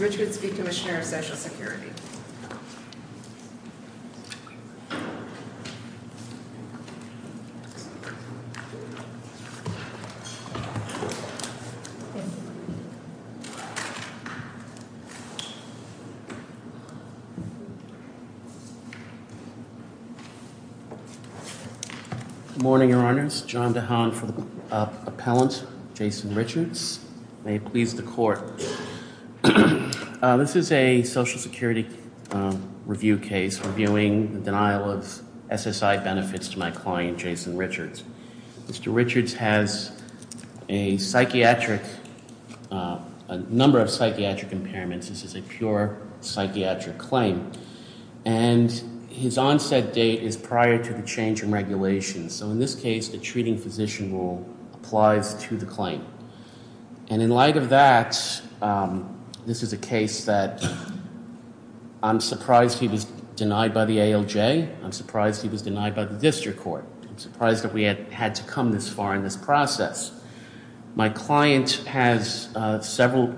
Morning, Your Honors. John DeHaan from Appellant, Jason Richards. May it please the Court, I Social Security review case reviewing the denial of SSI benefits to my client, Jason Richards. Mr. Richards has a psychiatric, a number of psychiatric impairments. This is a pure psychiatric claim. And his onset date is prior to the case that I'm surprised he was denied by the ALJ. I'm surprised he was denied by the district court. I'm surprised that we had to come this far in this process. My client has several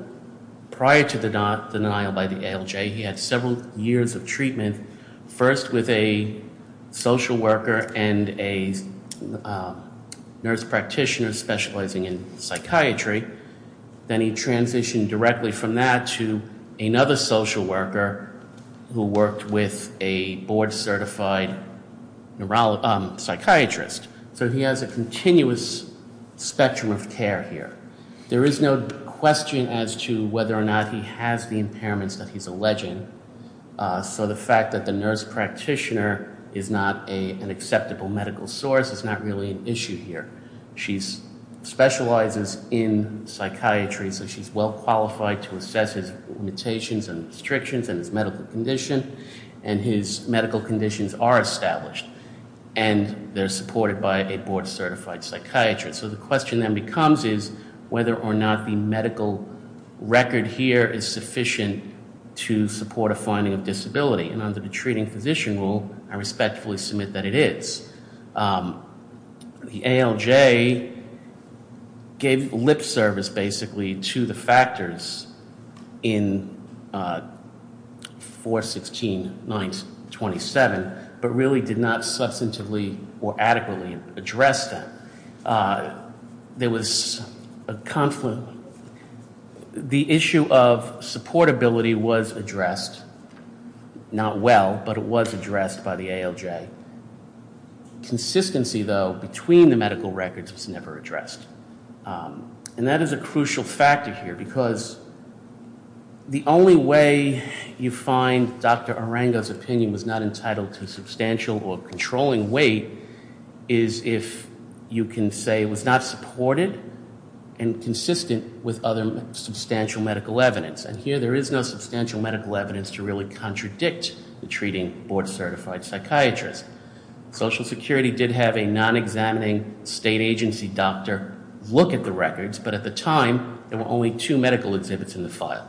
prior to the denial by the ALJ, he had several years of treatment, first with a social worker and a nurse practitioner specializing in psychiatry. Then he transitioned directly from that to another social worker who worked with a board certified psychiatrist. So he has a continuous spectrum of care here. There is no question as to whether or not he has the impairments that he's alleging. So the fact that the nurse practitioner is not an acceptable medical source is not really an issue here. She specializes in psychiatry, so she's well qualified to assess his limitations and restrictions and his medical condition. And his medical conditions are established. And they're supported by a board certified psychiatrist. So the question then becomes is whether or not the medical record here is sufficient to support a finding of disability. And I respectfully submit that it is. The ALJ gave lip service basically to the factors in 416.927, but really did not substantively or adequately address that. There was a conflict. The issue of supportability was addressed, not well, but it was addressed by the ALJ. Consistency, though, between the medical records was never addressed. And that is a crucial factor here because the only way you find Dr. Arango's opinion was not entitled to substantial or controlling weight is if you can say it was not supported and consistent with other substantial medical evidence to really contradict the treating board certified psychiatrist. Social Security did have a non-examining state agency doctor look at the records, but at the time there were only two medical exhibits in the file.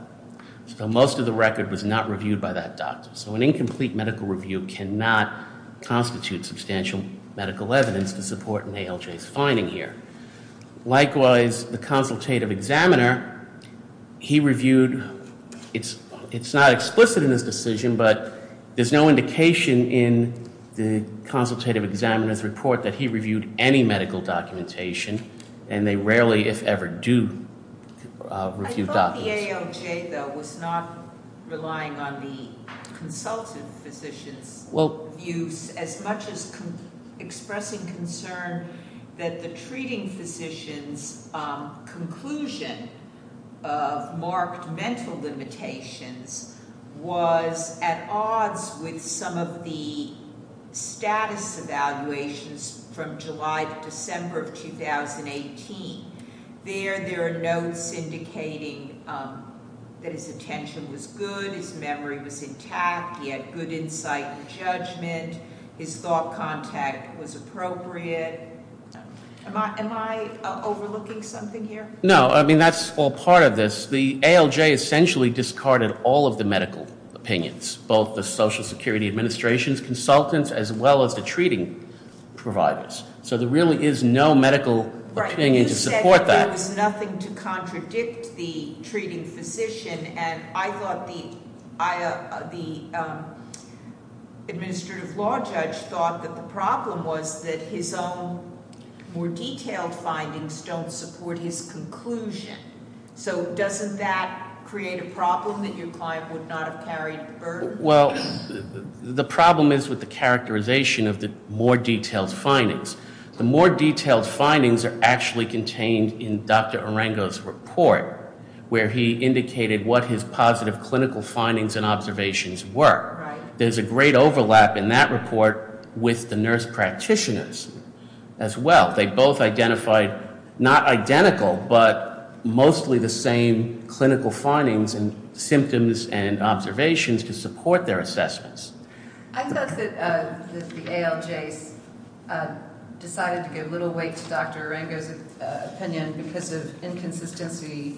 So most of the record was not reviewed by that doctor. So an incomplete medical review cannot constitute substantial medical evidence to support an ALJ's finding here. Likewise, the consultative examiner, he reviewed, it's not explicit in this decision, but there's no indication in the consultative examiner's report that he reviewed any medical documentation. And they rarely, if ever, do review documents. Well, the ALJ, though, was not relying on the consultative physician's views as much as expressing concern that the treating physician's conclusion of marked mental limitations was at odds with some of the status evaluations from July to December of 2018. There, there are notes indicating that his attention was good, his memory was intact, he had good insight and judgment, his thought contact was appropriate. Am I overlooking something here? No, I mean, that's all part of this. The ALJ essentially discarded all of the medical opinions, both the Social Security Administration's as well as the treating providers. So there really is no medical opinion to support that. Right, but you said there was nothing to contradict the treating physician, and I thought the administrative law judge thought that the problem was that his own more detailed findings don't support his conclusion. So doesn't that create a problem that your client would not have carried the burden? Well, the problem is with the characterization of the more detailed findings. The more detailed findings are actually contained in Dr. Arengo's report, where he indicated what his positive clinical findings and observations were. There's a great overlap in that report with the nurse practitioners as well. They both identified not identical, but mostly the same clinical findings and symptoms and observations to support their assessments. I thought that the ALJ decided to give little weight to Dr. Arengo's opinion because of inconsistency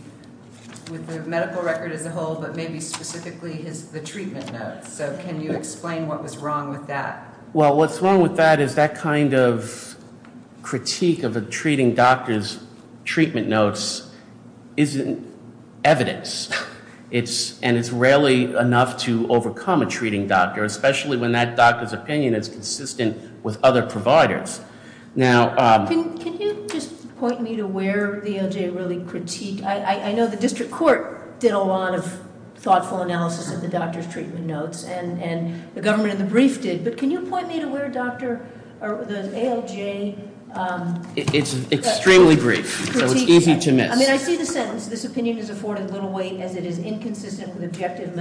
with the medical record as a whole, but maybe specifically the treatment notes. So can you explain what was wrong with that? Well, what's wrong with that is that kind of critique of a treating doctor's treatment notes isn't evidence, and it's rarely enough to overcome a treating doctor, especially when that doctor's opinion is consistent with other providers. Can you just point me to where the ALJ really critiqued? I know the district court did a lot of thoughtful analysis of the doctor's treatment notes, and the government in the brief did, but can you point me to where the ALJ- It's extremely brief, so it's easy to miss. I mean, I see the sentence, this opinion is afforded little weight as it is inconsistent with objective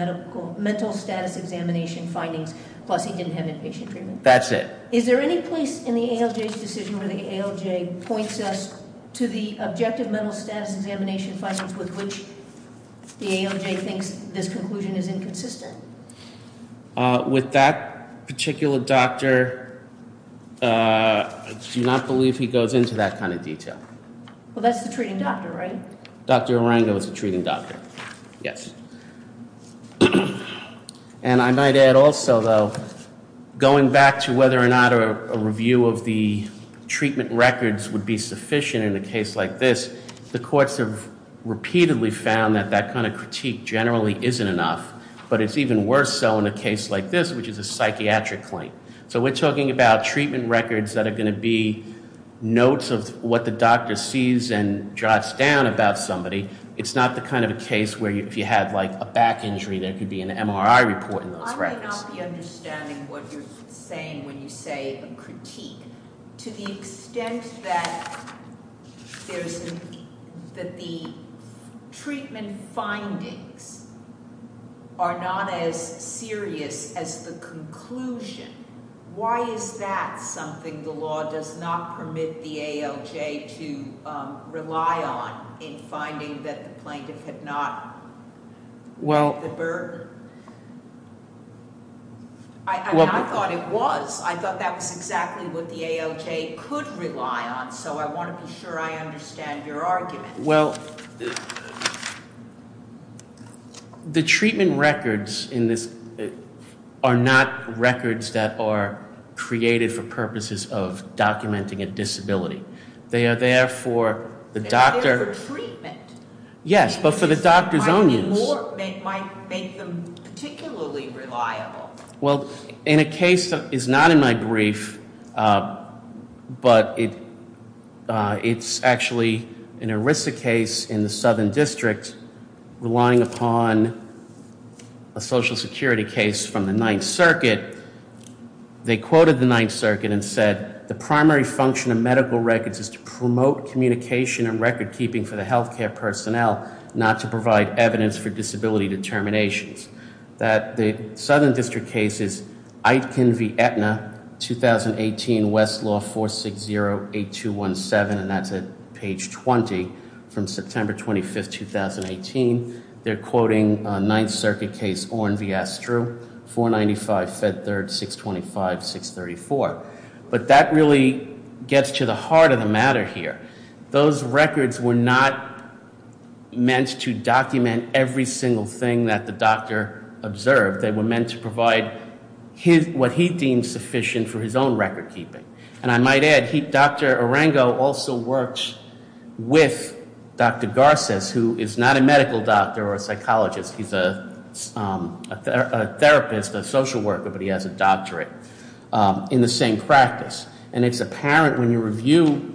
mental status examination findings, plus he didn't have inpatient treatment. That's it. Is there any place in the ALJ's decision where the ALJ points us to the objective mental status examination findings with which the ALJ thinks this conclusion is inconsistent? With that particular doctor, I do not believe he goes into that kind of detail. Well, that's the treating doctor, right? Dr. Arango is the treating doctor, yes. And I might add also, though, going back to whether or not a review of the treatment records would be sufficient in a case like this, the courts have repeatedly found that that kind of critique generally isn't enough. But it's even worse so in a case like this, which is a psychiatric claim. So we're talking about treatment records that are going to be notes of what the doctor sees and jots down about somebody. It's not the kind of a case where if you had a back injury, there could be an MRI report in those records. I may not be understanding what you're saying when you say a critique. To the extent that the treatment findings are not as serious as the conclusion, why is that something the law does not permit the ALJ to rely on in finding that the plaintiff had not met the burden? I thought it was. I thought that was exactly what the ALJ could rely on. So I want to be sure I understand your argument. Well, the treatment records in this are not records that are created for purposes of documenting a disability. They are there for the doctor. They're there for treatment. Yes, but for the doctor's own use. They might make them particularly reliable. Well, in a case that is not in my brief, but it's actually an ERISA case in the Southern District relying upon a Social Security case from the Ninth Circuit. They quoted the Ninth Circuit and said the primary function of medical records is to promote communication and record keeping for the health care personnel, not to provide evidence for disability determinations. The Southern District case is Aitken v. Aetna, 2018, Westlaw 4608217, and that's at page 20 from September 25th, 2018. They're quoting Ninth Circuit case Oren v. Astru, 495 Fed Third 625-634. But that really gets to the heart of the matter here. Those records were not meant to document every single thing that the doctor observed. They were meant to provide what he deemed sufficient for his own record keeping. And I might add, Dr. Orengo also works with Dr. Garces, who is not a medical doctor or a psychologist. He's a therapist, a social worker, but he has a doctorate in the same practice. And it's apparent when you review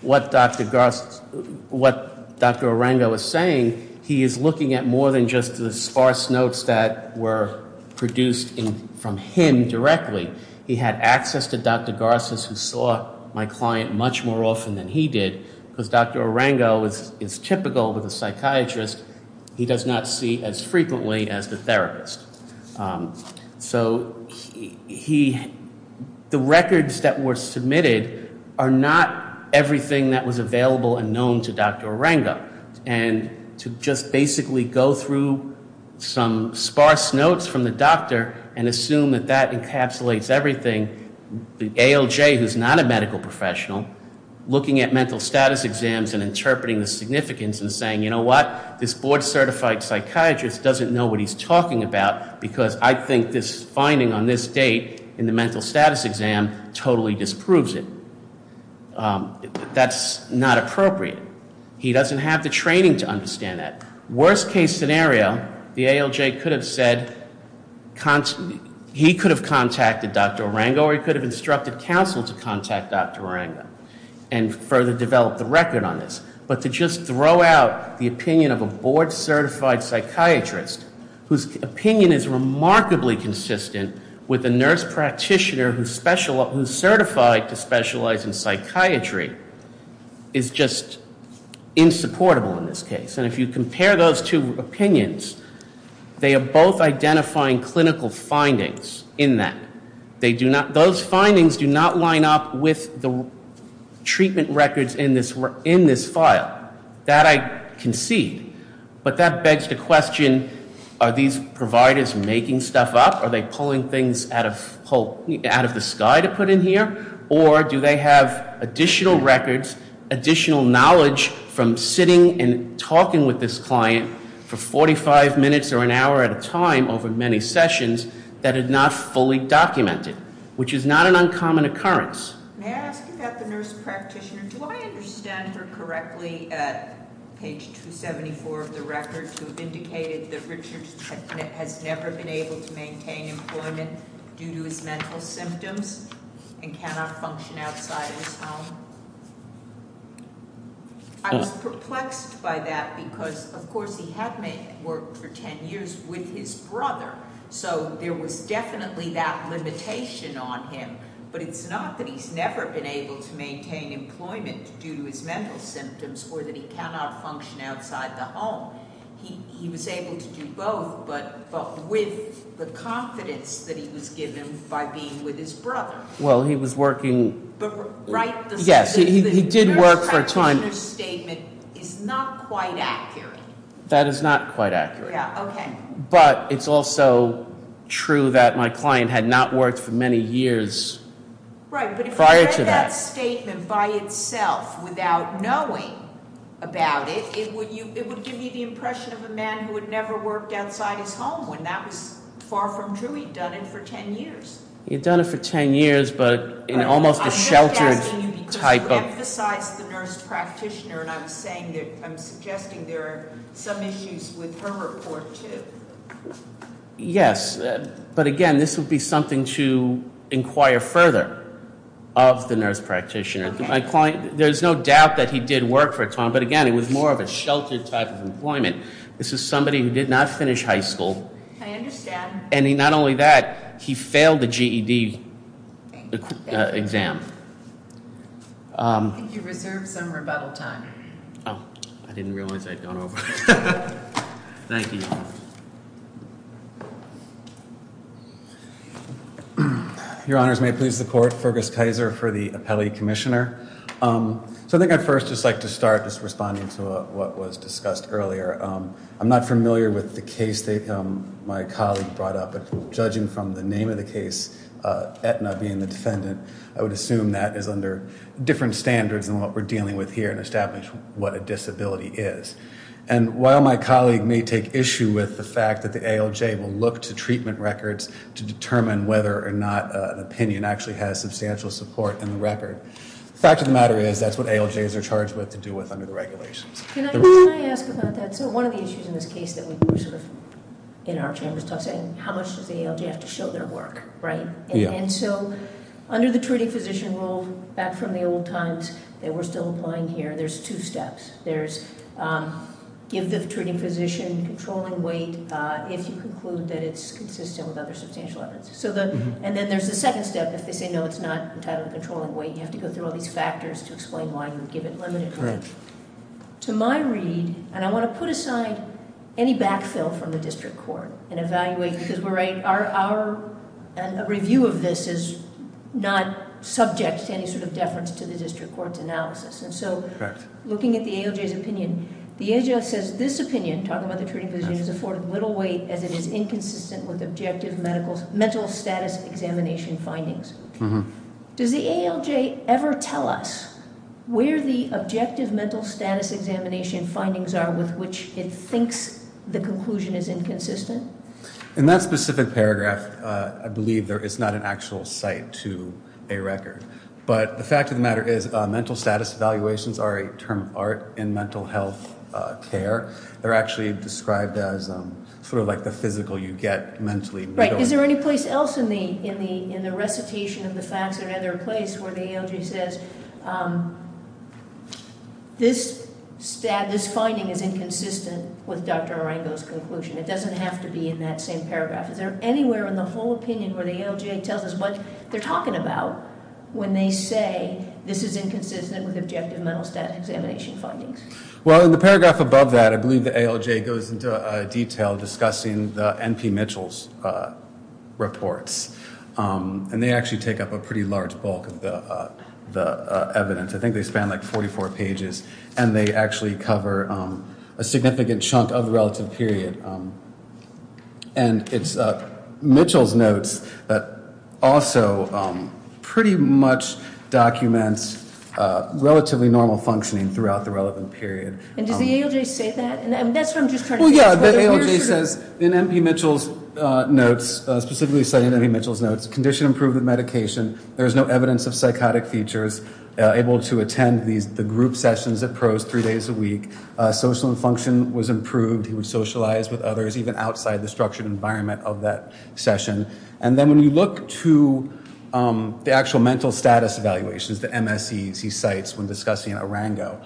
what Dr. Orengo is saying, he is looking at more than just the sparse notes that were produced from him directly. He had access to Dr. Garces, who saw my client much more often than he did, because Dr. Orengo is typical of a psychiatrist he does not see as frequently as the therapist. So the records that were submitted are not everything that was available and known to Dr. Orengo. And to just basically go through some sparse notes from the doctor and assume that that encapsulates everything, the ALJ, who's not a medical professional, looking at mental status exams and interpreting the significance and saying, you know what, this board-certified psychiatrist doesn't know what he's talking about because I think this finding on this date in the mental status exam totally disproves it. That's not appropriate. He doesn't have the training to understand that. Worst case scenario, the ALJ could have said, he could have contacted Dr. Orengo or he could have instructed counsel to contact Dr. Orengo and further develop the record on this. But to just throw out the opinion of a board-certified psychiatrist, whose opinion is remarkably consistent with a nurse practitioner who's certified to specialize in psychiatry, is just insupportable in this case. And if you compare those two opinions, they are both identifying clinical findings in that. Those findings do not line up with the treatment records in this file. That I can see. But that begs the question, are these providers making stuff up? Are they pulling things out of the sky to put in here? Or do they have additional records, additional knowledge from sitting and talking with this client for 45 minutes or an hour at a time over many sessions that are not fully documented? Which is not an uncommon occurrence. May I ask you about the nurse practitioner? Do I understand her correctly at page 274 of the record to have indicated that Richard has never been able to maintain employment due to his mental symptoms and cannot function outside of his home? I was perplexed by that because, of course, he had worked for 10 years with his brother. So there was definitely that limitation on him. But it's not that he's never been able to maintain employment due to his mental symptoms or that he cannot function outside the home. He was able to do both, but with the confidence that he was given by being with his brother. Well, he was working. Yes, he did work for a time. The nurse practitioner's statement is not quite accurate. That is not quite accurate. Yeah, okay. But it's also true that my client had not worked for many years prior to that. Right, but if you read that statement by itself without knowing about it, it would give you the impression of a man who had never worked outside his home when that was far from true. He'd done it for 10 years. He'd done it for 10 years, but in almost a sheltered type of- I'm just asking you because you emphasized the nurse practitioner, and I'm suggesting there are some issues with her report, too. Yes, but, again, this would be something to inquire further of the nurse practitioner. There's no doubt that he did work for a time, but, again, it was more of a sheltered type of employment. This is somebody who did not finish high school. I understand. And not only that, he failed the GED exam. I think you reserve some rebuttal time. Oh, I didn't realize I'd gone over. Thank you. Your Honors, may it please the Court, Fergus Kaiser for the appellee commissioner. So I think I'd first just like to start just responding to what was discussed earlier. I'm not familiar with the case that my colleague brought up, but judging from the name of the case, Aetna being the defendant, I would assume that is under different standards than what we're dealing with here in establishing what a disability is. And while my colleague may take issue with the fact that the ALJ will look to treatment records to determine whether or not an opinion actually has substantial support in the record, the fact of the matter is that's what ALJs are charged with to do with under the regulations. Can I ask about that? So one of the issues in this case that we were sort of in our chambers talking, how much does the ALJ have to show their work, right? Yeah. And so under the treating physician rule, back from the old times, that we're still applying here, there's two steps. There's give the treating physician controlling weight if you conclude that it's consistent with other substantial evidence. And then there's the second step. If they say no, it's not entitled controlling weight, you have to go through all these factors to explain why you would give it limited weight. Correct. To my read, and I want to put aside any backfill from the district court and evaluate, because we're right, our review of this is not subject to any sort of deference to the district court's analysis. And so looking at the ALJ's opinion, the ALJ says this opinion, talking about the treating physician, is afforded little weight as it is inconsistent with objective mental status examination findings. Does the ALJ ever tell us where the objective mental status examination findings are with which it thinks the conclusion is inconsistent? In that specific paragraph, I believe there is not an actual site to a record. But the fact of the matter is mental status evaluations are a term of art in mental health care. They're actually described as sort of like the physical you get mentally. Is there any place else in the recitation of the facts or another place where the ALJ says this finding is inconsistent with Dr. Arango's conclusion? It doesn't have to be in that same paragraph. Is there anywhere in the whole opinion where the ALJ tells us what they're talking about when they say this is inconsistent with objective mental status examination findings? Well, in the paragraph above that, I believe the ALJ goes into detail discussing the N.P. Mitchell's reports. And they actually take up a pretty large bulk of the evidence. I think they span like 44 pages. And they actually cover a significant chunk of the relative period. And it's Mitchell's notes that also pretty much documents relatively normal functioning throughout the relevant period. And does the ALJ say that? Well, yeah, the ALJ says in N.P. Mitchell's notes, specifically citing N.P. Mitchell's notes, condition improved with medication, there is no evidence of psychotic features, able to attend the group sessions at pros three days a week. Social and function was improved. He would socialize with others, even outside the structured environment of that session. And then when you look to the actual mental status evaluations, the MSEs he cites when discussing Arango,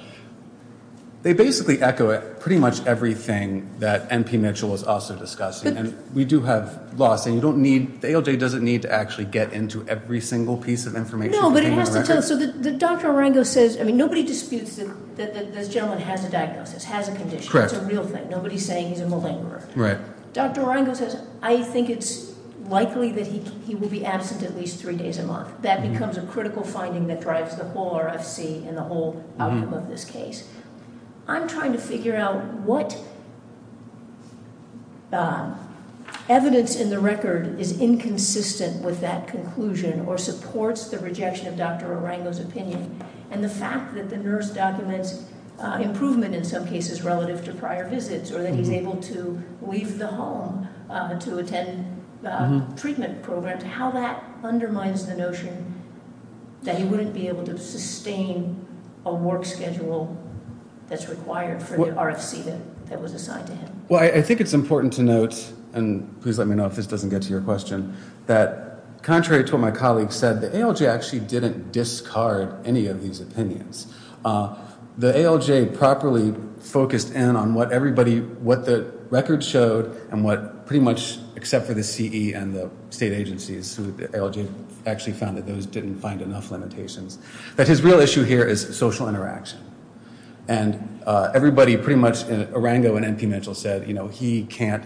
they basically echo pretty much everything that N.P. Mitchell was also discussing. And we do have loss. And you don't need, the ALJ doesn't need to actually get into every single piece of information. No, but it has to tell. So Dr. Arango says, I mean, nobody disputes that this gentleman has a diagnosis, has a condition. That's a real thing. Nobody's saying he's a malingerer. Dr. Arango says, I think it's likely that he will be absent at least three days a month. That becomes a critical finding that drives the whole RFC and the whole outcome of this case. I'm trying to figure out what evidence in the record is inconsistent with that conclusion or supports the rejection of Dr. Arango's opinion, and the fact that the nurse documents improvement in some cases relative to prior visits or that he's able to leave the home to attend treatment programs, how that undermines the notion that he wouldn't be able to sustain a work schedule that's required for the RFC that was assigned to him. Well, I think it's important to note, and please let me know if this doesn't get to your question, that contrary to what my colleague said, the ALJ actually didn't discard any of these opinions. The ALJ properly focused in on what everybody, what the record showed and what pretty much, except for the CE and the state agencies, the ALJ actually found that those didn't find enough limitations, that his real issue here is social interaction. And everybody pretty much, Arango and MP Mitchell said, you know, he can't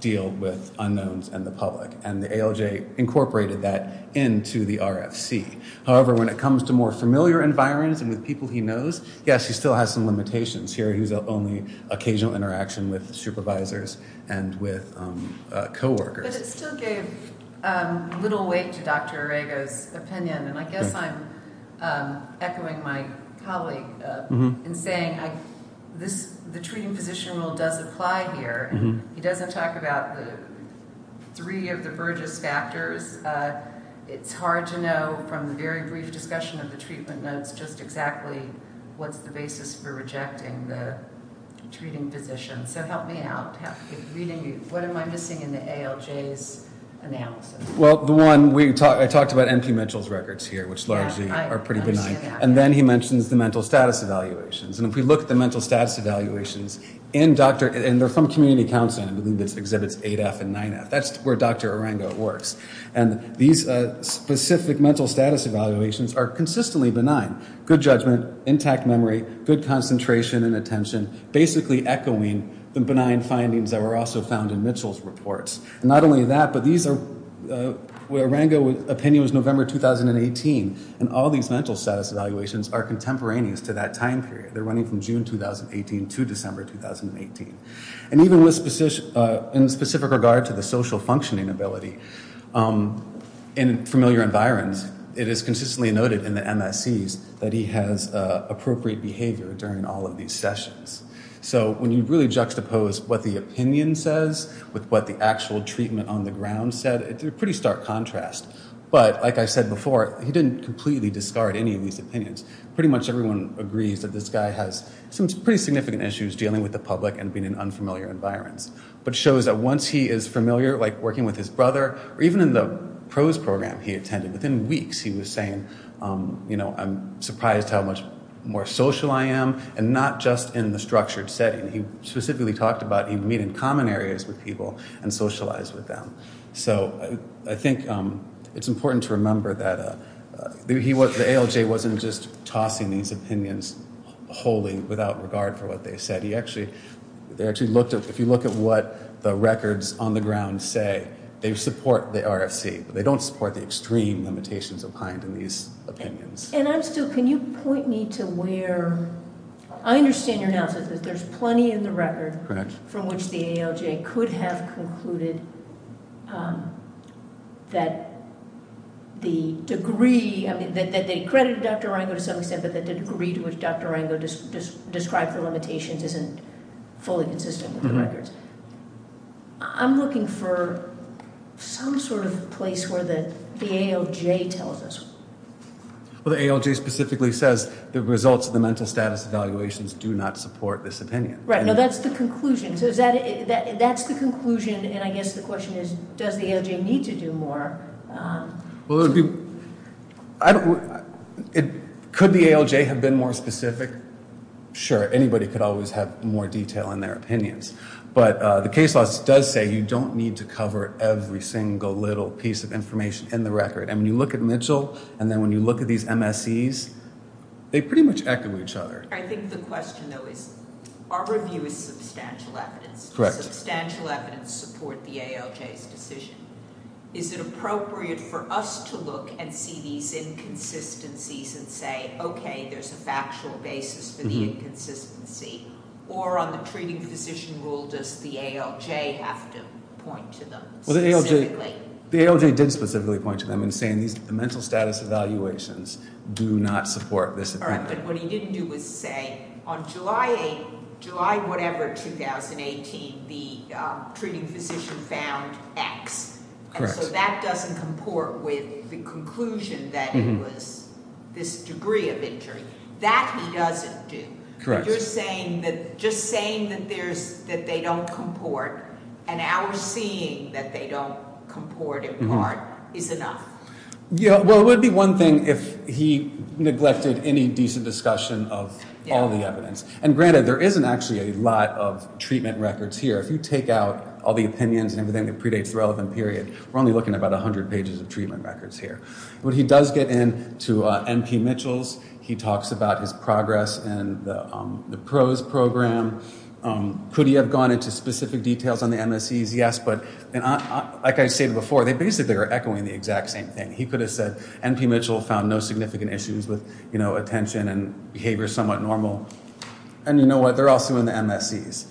deal with unknowns and the public, and the ALJ incorporated that into the RFC. However, when it comes to more familiar environments and with people he knows, yes, he still has some limitations. Here he was only occasional interaction with supervisors and with coworkers. But it still gave little weight to Dr. Arango's opinion. And I guess I'm echoing my colleague in saying the treating physician rule does apply here. He doesn't talk about the three of the Burgess factors. It's hard to know from the very brief discussion of the treatment notes just exactly what's the basis for rejecting the treating physician. So help me out. What am I missing in the ALJ's analysis? Well, the one, I talked about MP Mitchell's records here, which largely are pretty benign. And then he mentions the mental status evaluations. And if we look at the mental status evaluations, and they're from community counseling. I believe this exhibits 8F and 9F. That's where Dr. Arango works. And these specific mental status evaluations are consistently benign. Good judgment, intact memory, good concentration and attention, basically echoing the benign findings that were also found in Mitchell's reports. And not only that, but these are, Arango's opinion was November 2018. And all these mental status evaluations are contemporaneous to that time period. They're running from June 2018 to December 2018. And even in specific regard to the social functioning ability, in familiar environs, it is consistently noted in the MSCs that he has appropriate behavior during all of these sessions. So when you really juxtapose what the opinion says with what the actual treatment on the ground said, it's a pretty stark contrast. But like I said before, he didn't completely discard any of these opinions. Pretty much everyone agrees that this guy has some pretty significant issues dealing with the public and being in unfamiliar environments. But it shows that once he is familiar, like working with his brother, or even in the PROSE program he attended, within weeks he was saying, you know, I'm surprised how much more social I am, and not just in the structured setting. He specifically talked about meeting common areas with people and socialize with them. So I think it's important to remember that the ALJ wasn't just tossing these opinions wholly without regard for what they said. If you look at what the records on the ground say, they support the RFC. But they don't support the extreme limitations of kind in these opinions. And I'm still, can you point me to where, I understand your analysis that there's plenty in the record- Correct. From which the ALJ could have concluded that the degree, I mean that they credit Dr. Ringo to some extent, but that the degree to which Dr. Ringo described the limitations isn't fully consistent with the records. I'm looking for some sort of place where the ALJ tells us. Well, the ALJ specifically says the results of the mental status evaluations do not support this opinion. Right. No, that's the conclusion. So is that, that's the conclusion, and I guess the question is, does the ALJ need to do more? Well, it would be, I don't, could the ALJ have been more specific? Sure, anybody could always have more detail in their opinions. But the case law does say you don't need to cover every single little piece of information in the record. And when you look at Mitchell, and then when you look at these MSEs, they pretty much echo each other. I think the question, though, is our review is substantial evidence. Correct. Substantial evidence support the ALJ's decision. Is it appropriate for us to look and see these inconsistencies and say, okay, there's a factual basis for the inconsistency? Or on the treating physician rule, does the ALJ have to point to them specifically? The ALJ did specifically point to them in saying these mental status evaluations do not support this opinion. All right, but what he didn't do was say, on July 8th, July whatever, 2018, the treating physician found X. Correct. And so that doesn't comport with the conclusion that it was this degree of injury. That he doesn't do. Correct. You're saying that just saying that they don't comport and our seeing that they don't comport in part is enough. Yeah, well, it would be one thing if he neglected any decent discussion of all the evidence. And granted, there isn't actually a lot of treatment records here. If you take out all the opinions and everything that predates the relevant period, we're only looking at about 100 pages of treatment records here. When he does get into N.P. Mitchell's, he talks about his progress in the PROS program. Could he have gone into specific details on the MSEs? Yes, but like I stated before, they basically are echoing the exact same thing. He could have said N.P. Mitchell found no significant issues with attention and behavior somewhat normal. And you know what? They're also in the MSEs.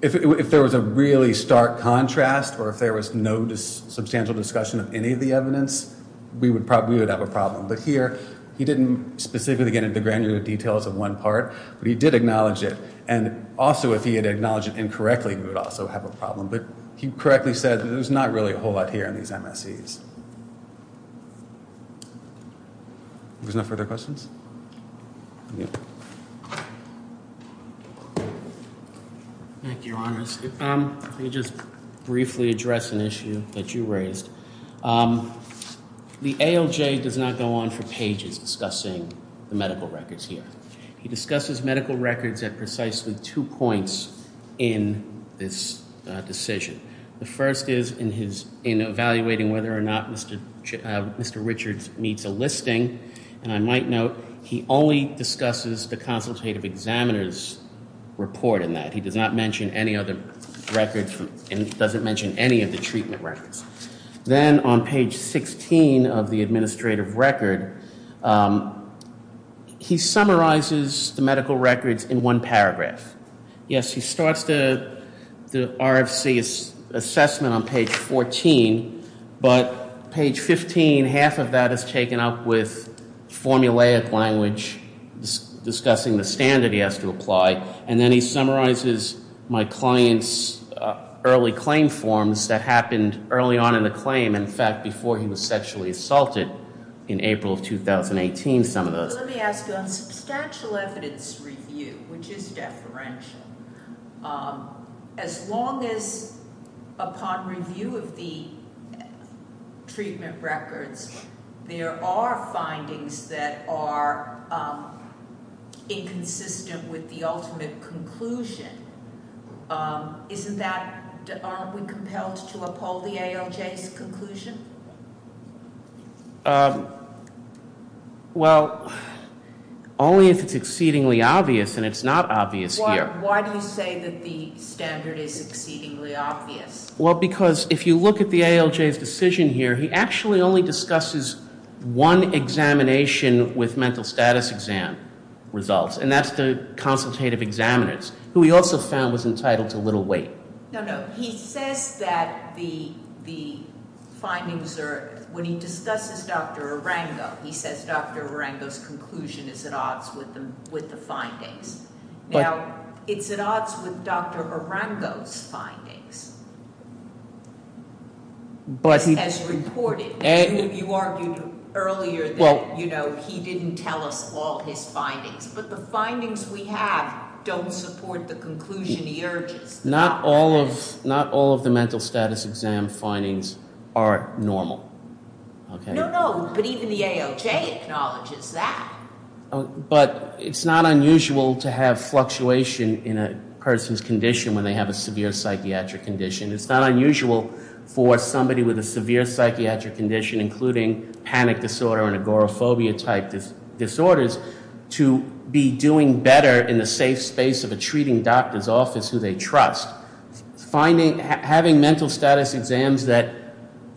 If there was a really stark contrast or if there was no substantial discussion of any of the evidence, we would have a problem. But here, he didn't specifically get into granular details of one part, but he did acknowledge it. And also, if he had acknowledged it incorrectly, we would also have a problem. But he correctly said that there's not really a whole lot here in these MSEs. There's no further questions? Thank you. Thank you, Your Honors. Let me just briefly address an issue that you raised. The ALJ does not go on for pages discussing the medical records here. He discusses medical records at precisely two points in this decision. The first is in evaluating whether or not Mr. Richards meets a listing. And I might note, he only discusses the consultative examiner's report in that. He does not mention any other records and doesn't mention any of the treatment records. Then on page 16 of the administrative record, he summarizes the medical records in one paragraph. Yes, he starts the RFC assessment on page 14. But page 15, half of that is taken up with formulaic language discussing the standard he has to apply. And then he summarizes my client's early claim forms that happened early on in the claim. In fact, before he was sexually assaulted in April of 2018, some of those. So let me ask you, on substantial evidence review, which is deferential, as long as upon review of the treatment records there are findings that are inconsistent with the ultimate conclusion, aren't we compelled to uphold the ALJ's conclusion? Well, only if it's exceedingly obvious, and it's not obvious here. Why do you say that the standard is exceedingly obvious? Well, because if you look at the ALJ's decision here, he actually only discusses one examination with mental status exam results, and that's the consultative examiner's, who he also found was entitled to little weight. No, no, he says that the findings are, when he discusses Dr. Arango, he says Dr. Arango's conclusion is at odds with the findings. Now, it's at odds with Dr. Arango's findings, as reported. You argued earlier that he didn't tell us all his findings. But the findings we have don't support the conclusion he urges. Not all of the mental status exam findings are normal. No, no, but even the ALJ acknowledges that. But it's not unusual to have fluctuation in a person's condition when they have a severe psychiatric condition. It's not unusual for somebody with a severe psychiatric condition, including panic disorder and agoraphobia-type disorders, to be doing better in the safe space of a treating doctor's office who they trust. Having mental status exams that,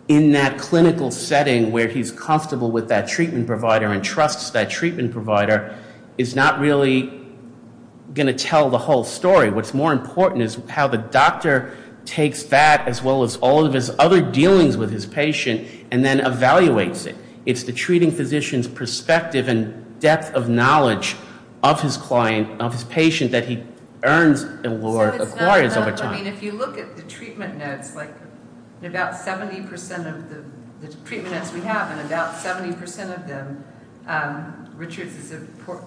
in that clinical setting where he's comfortable with that treatment provider and trusts that treatment provider, is not really going to tell the whole story. What's more important is how the doctor takes that, as well as all of his other dealings with his patient, and then evaluates it. It's the treating physician's perspective and depth of knowledge of his client, of his patient, that he earns and acquires over time. If you look at the treatment notes, in about 70% of the treatment notes we have, in about 70% of them, Richards is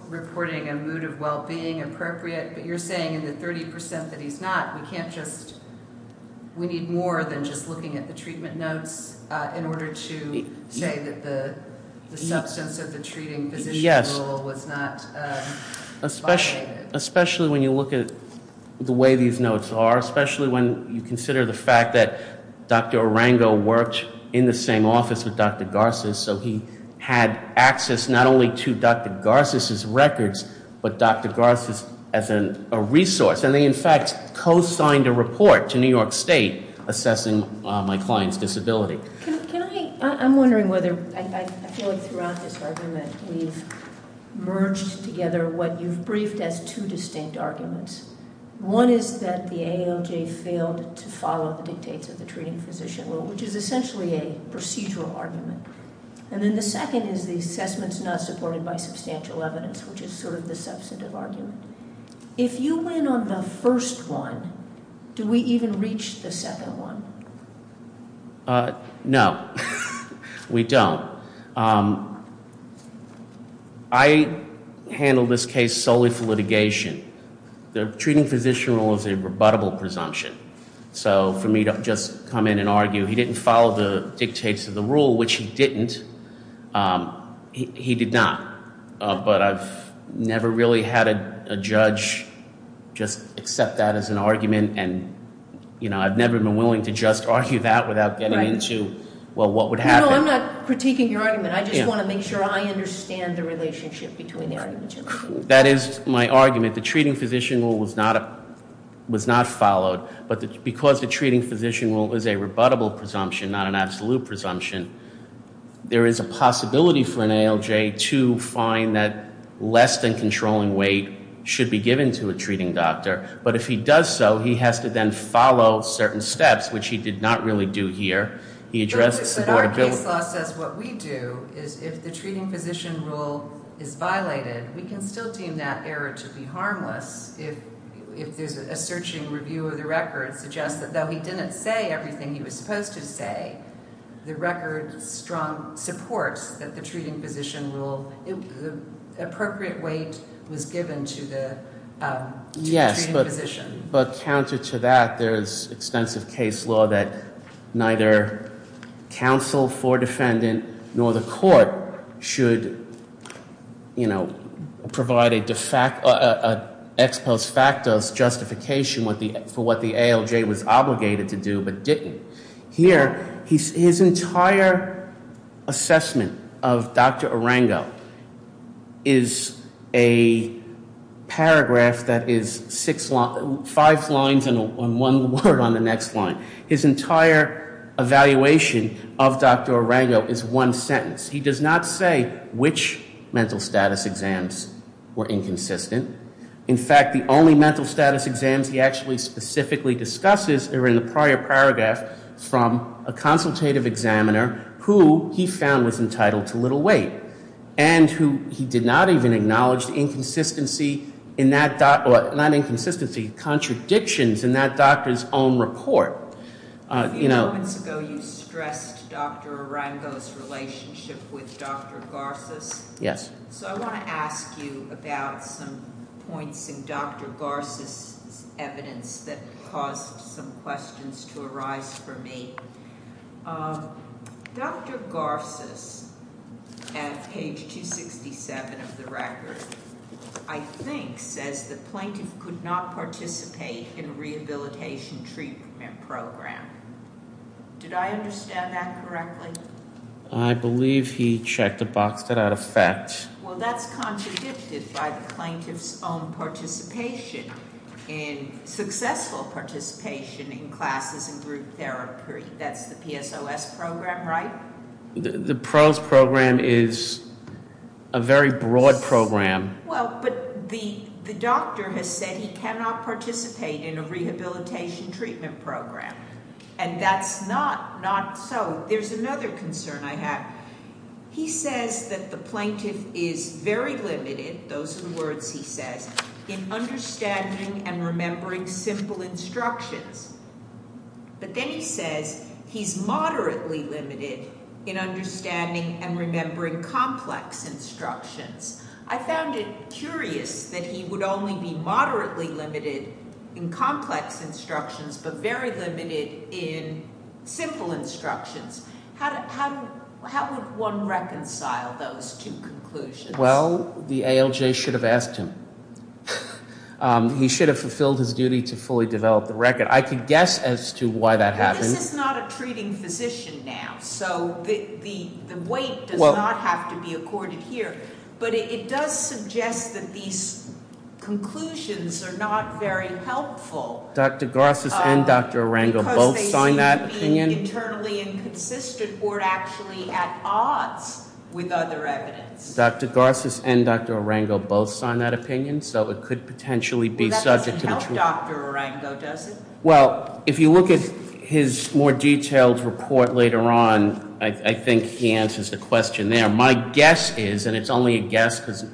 reporting a mood of well-being, appropriate. But you're saying in the 30% that he's not, we need more than just looking at the treatment notes in order to say that the substance of the treating physician's role was not violated. Especially when you look at the way these notes are, especially when you consider the fact that Dr. Arango worked in the same office with Dr. Garces, so he had access not only to Dr. Garces' records, but Dr. Garces as a resource. And they, in fact, co-signed a report to New York State assessing my client's disability. Can I, I'm wondering whether, I feel like throughout this argument, we've merged together what you've briefed as two distinct arguments. One is that the ALJ failed to follow the dictates of the treating physician, which is essentially a procedural argument. And then the second is the assessment's not supported by substantial evidence, which is sort of the substantive argument. If you win on the first one, do we even reach the second one? No, we don't. I handle this case solely for litigation. The treating physician rule is a rebuttable presumption. So for me to just come in and argue he didn't follow the dictates of the rule, which he didn't, he did not. But I've never really had a judge just accept that as an argument, and I've never been willing to just argue that without getting into, well, what would happen. No, I'm not critiquing your argument. I just want to make sure I understand the relationship between the argument you're making. That is my argument. The treating physician rule was not followed. But because the treating physician rule is a rebuttable presumption, not an absolute presumption, there is a possibility for an ALJ to find that less than controlling weight should be given to a treating doctor. But if he does so, he has to then follow certain steps, which he did not really do here. He addressed the affordability. But our case law says what we do is if the treating physician rule is violated, we can still deem that error to be harmless if there's a searching review of the record suggests that even though he didn't say everything he was supposed to say, the record supports that the treating physician rule, the appropriate weight was given to the treating physician. Yes, but counter to that, there is extensive case law that neither counsel for defendant nor the court should, you know, provide an ex post facto justification for what the ALJ was obligated to do but didn't. Here, his entire assessment of Dr. Arango is a paragraph that is five lines and one word on the next line. His entire evaluation of Dr. Arango is one sentence. He does not say which mental status exams were inconsistent. In fact, the only mental status exams he actually specifically discusses are in the prior paragraph from a consultative examiner who he found was entitled to little weight. And who he did not even acknowledge inconsistency in that, not inconsistency, contradictions in that doctor's own report. A few moments ago you stressed Dr. Arango's relationship with Dr. Garces. Yes. So I want to ask you about some points in Dr. Garces' evidence that caused some questions to arise for me. Dr. Garces, at page 267 of the record, I think says the plaintiff could not participate in rehabilitation treatment program. Did I understand that correctly? I believe he checked the box that had a fact. Well, that's contradicted by the plaintiff's own participation in successful participation in classes in group therapy. That's the PSOS program, right? The PROS program is a very broad program. Well, but the doctor has said he cannot participate in a rehabilitation treatment program. And that's not so. There's another concern I have. He says that the plaintiff is very limited, those are the words he says, in understanding and remembering simple instructions. But then he says he's moderately limited in understanding and remembering complex instructions. I found it curious that he would only be moderately limited in complex instructions but very limited in simple instructions. How would one reconcile those two conclusions? Well, the ALJ should have asked him. He should have fulfilled his duty to fully develop the record. I could guess as to why that happened. This is not a treating physician now. So the weight does not have to be accorded here. But it does suggest that these conclusions are not very helpful. Dr. Garces and Dr. Arango both signed that opinion. Because they seem to be internally inconsistent or actually at odds with other evidence. Dr. Garces and Dr. Arango both signed that opinion. So it could potentially be subject to- Well, if you look at his more detailed report later on, I think he answers the question there. My guess is, and it's only a guess because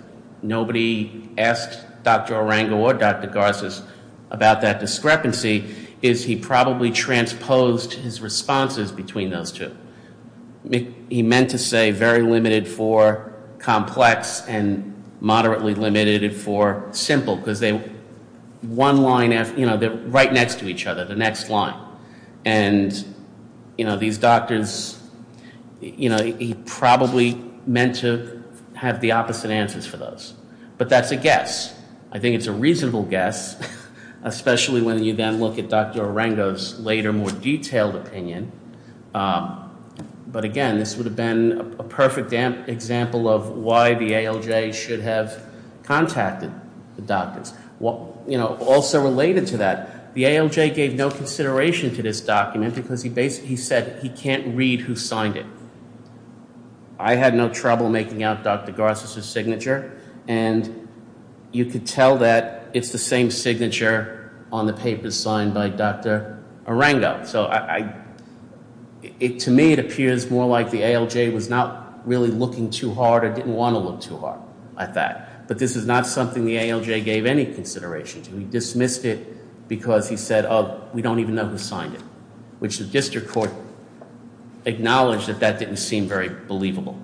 nobody asked Dr. Arango or Dr. Garces about that discrepancy, is he probably transposed his responses between those two. He meant to say very limited for complex and moderately limited for simple. Because they're right next to each other, the next line. And these doctors, he probably meant to have the opposite answers for those. But that's a guess. I think it's a reasonable guess, especially when you then look at Dr. Arango's later more detailed opinion. But again, this would have been a perfect example of why the ALJ should have contacted the doctors. Also related to that, the ALJ gave no consideration to this document because he said he can't read who signed it. I had no trouble making out Dr. Garces' signature. And you could tell that it's the same signature on the papers signed by Dr. Arango. To me, it appears more like the ALJ was not really looking too hard or didn't want to look too hard at that. But this is not something the ALJ gave any consideration to. He dismissed it because he said, oh, we don't even know who signed it. Which the district court acknowledged that that didn't seem very believable.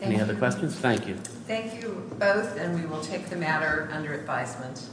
Any other questions? Thank you. Thank you both, and we will take the matter under advisement.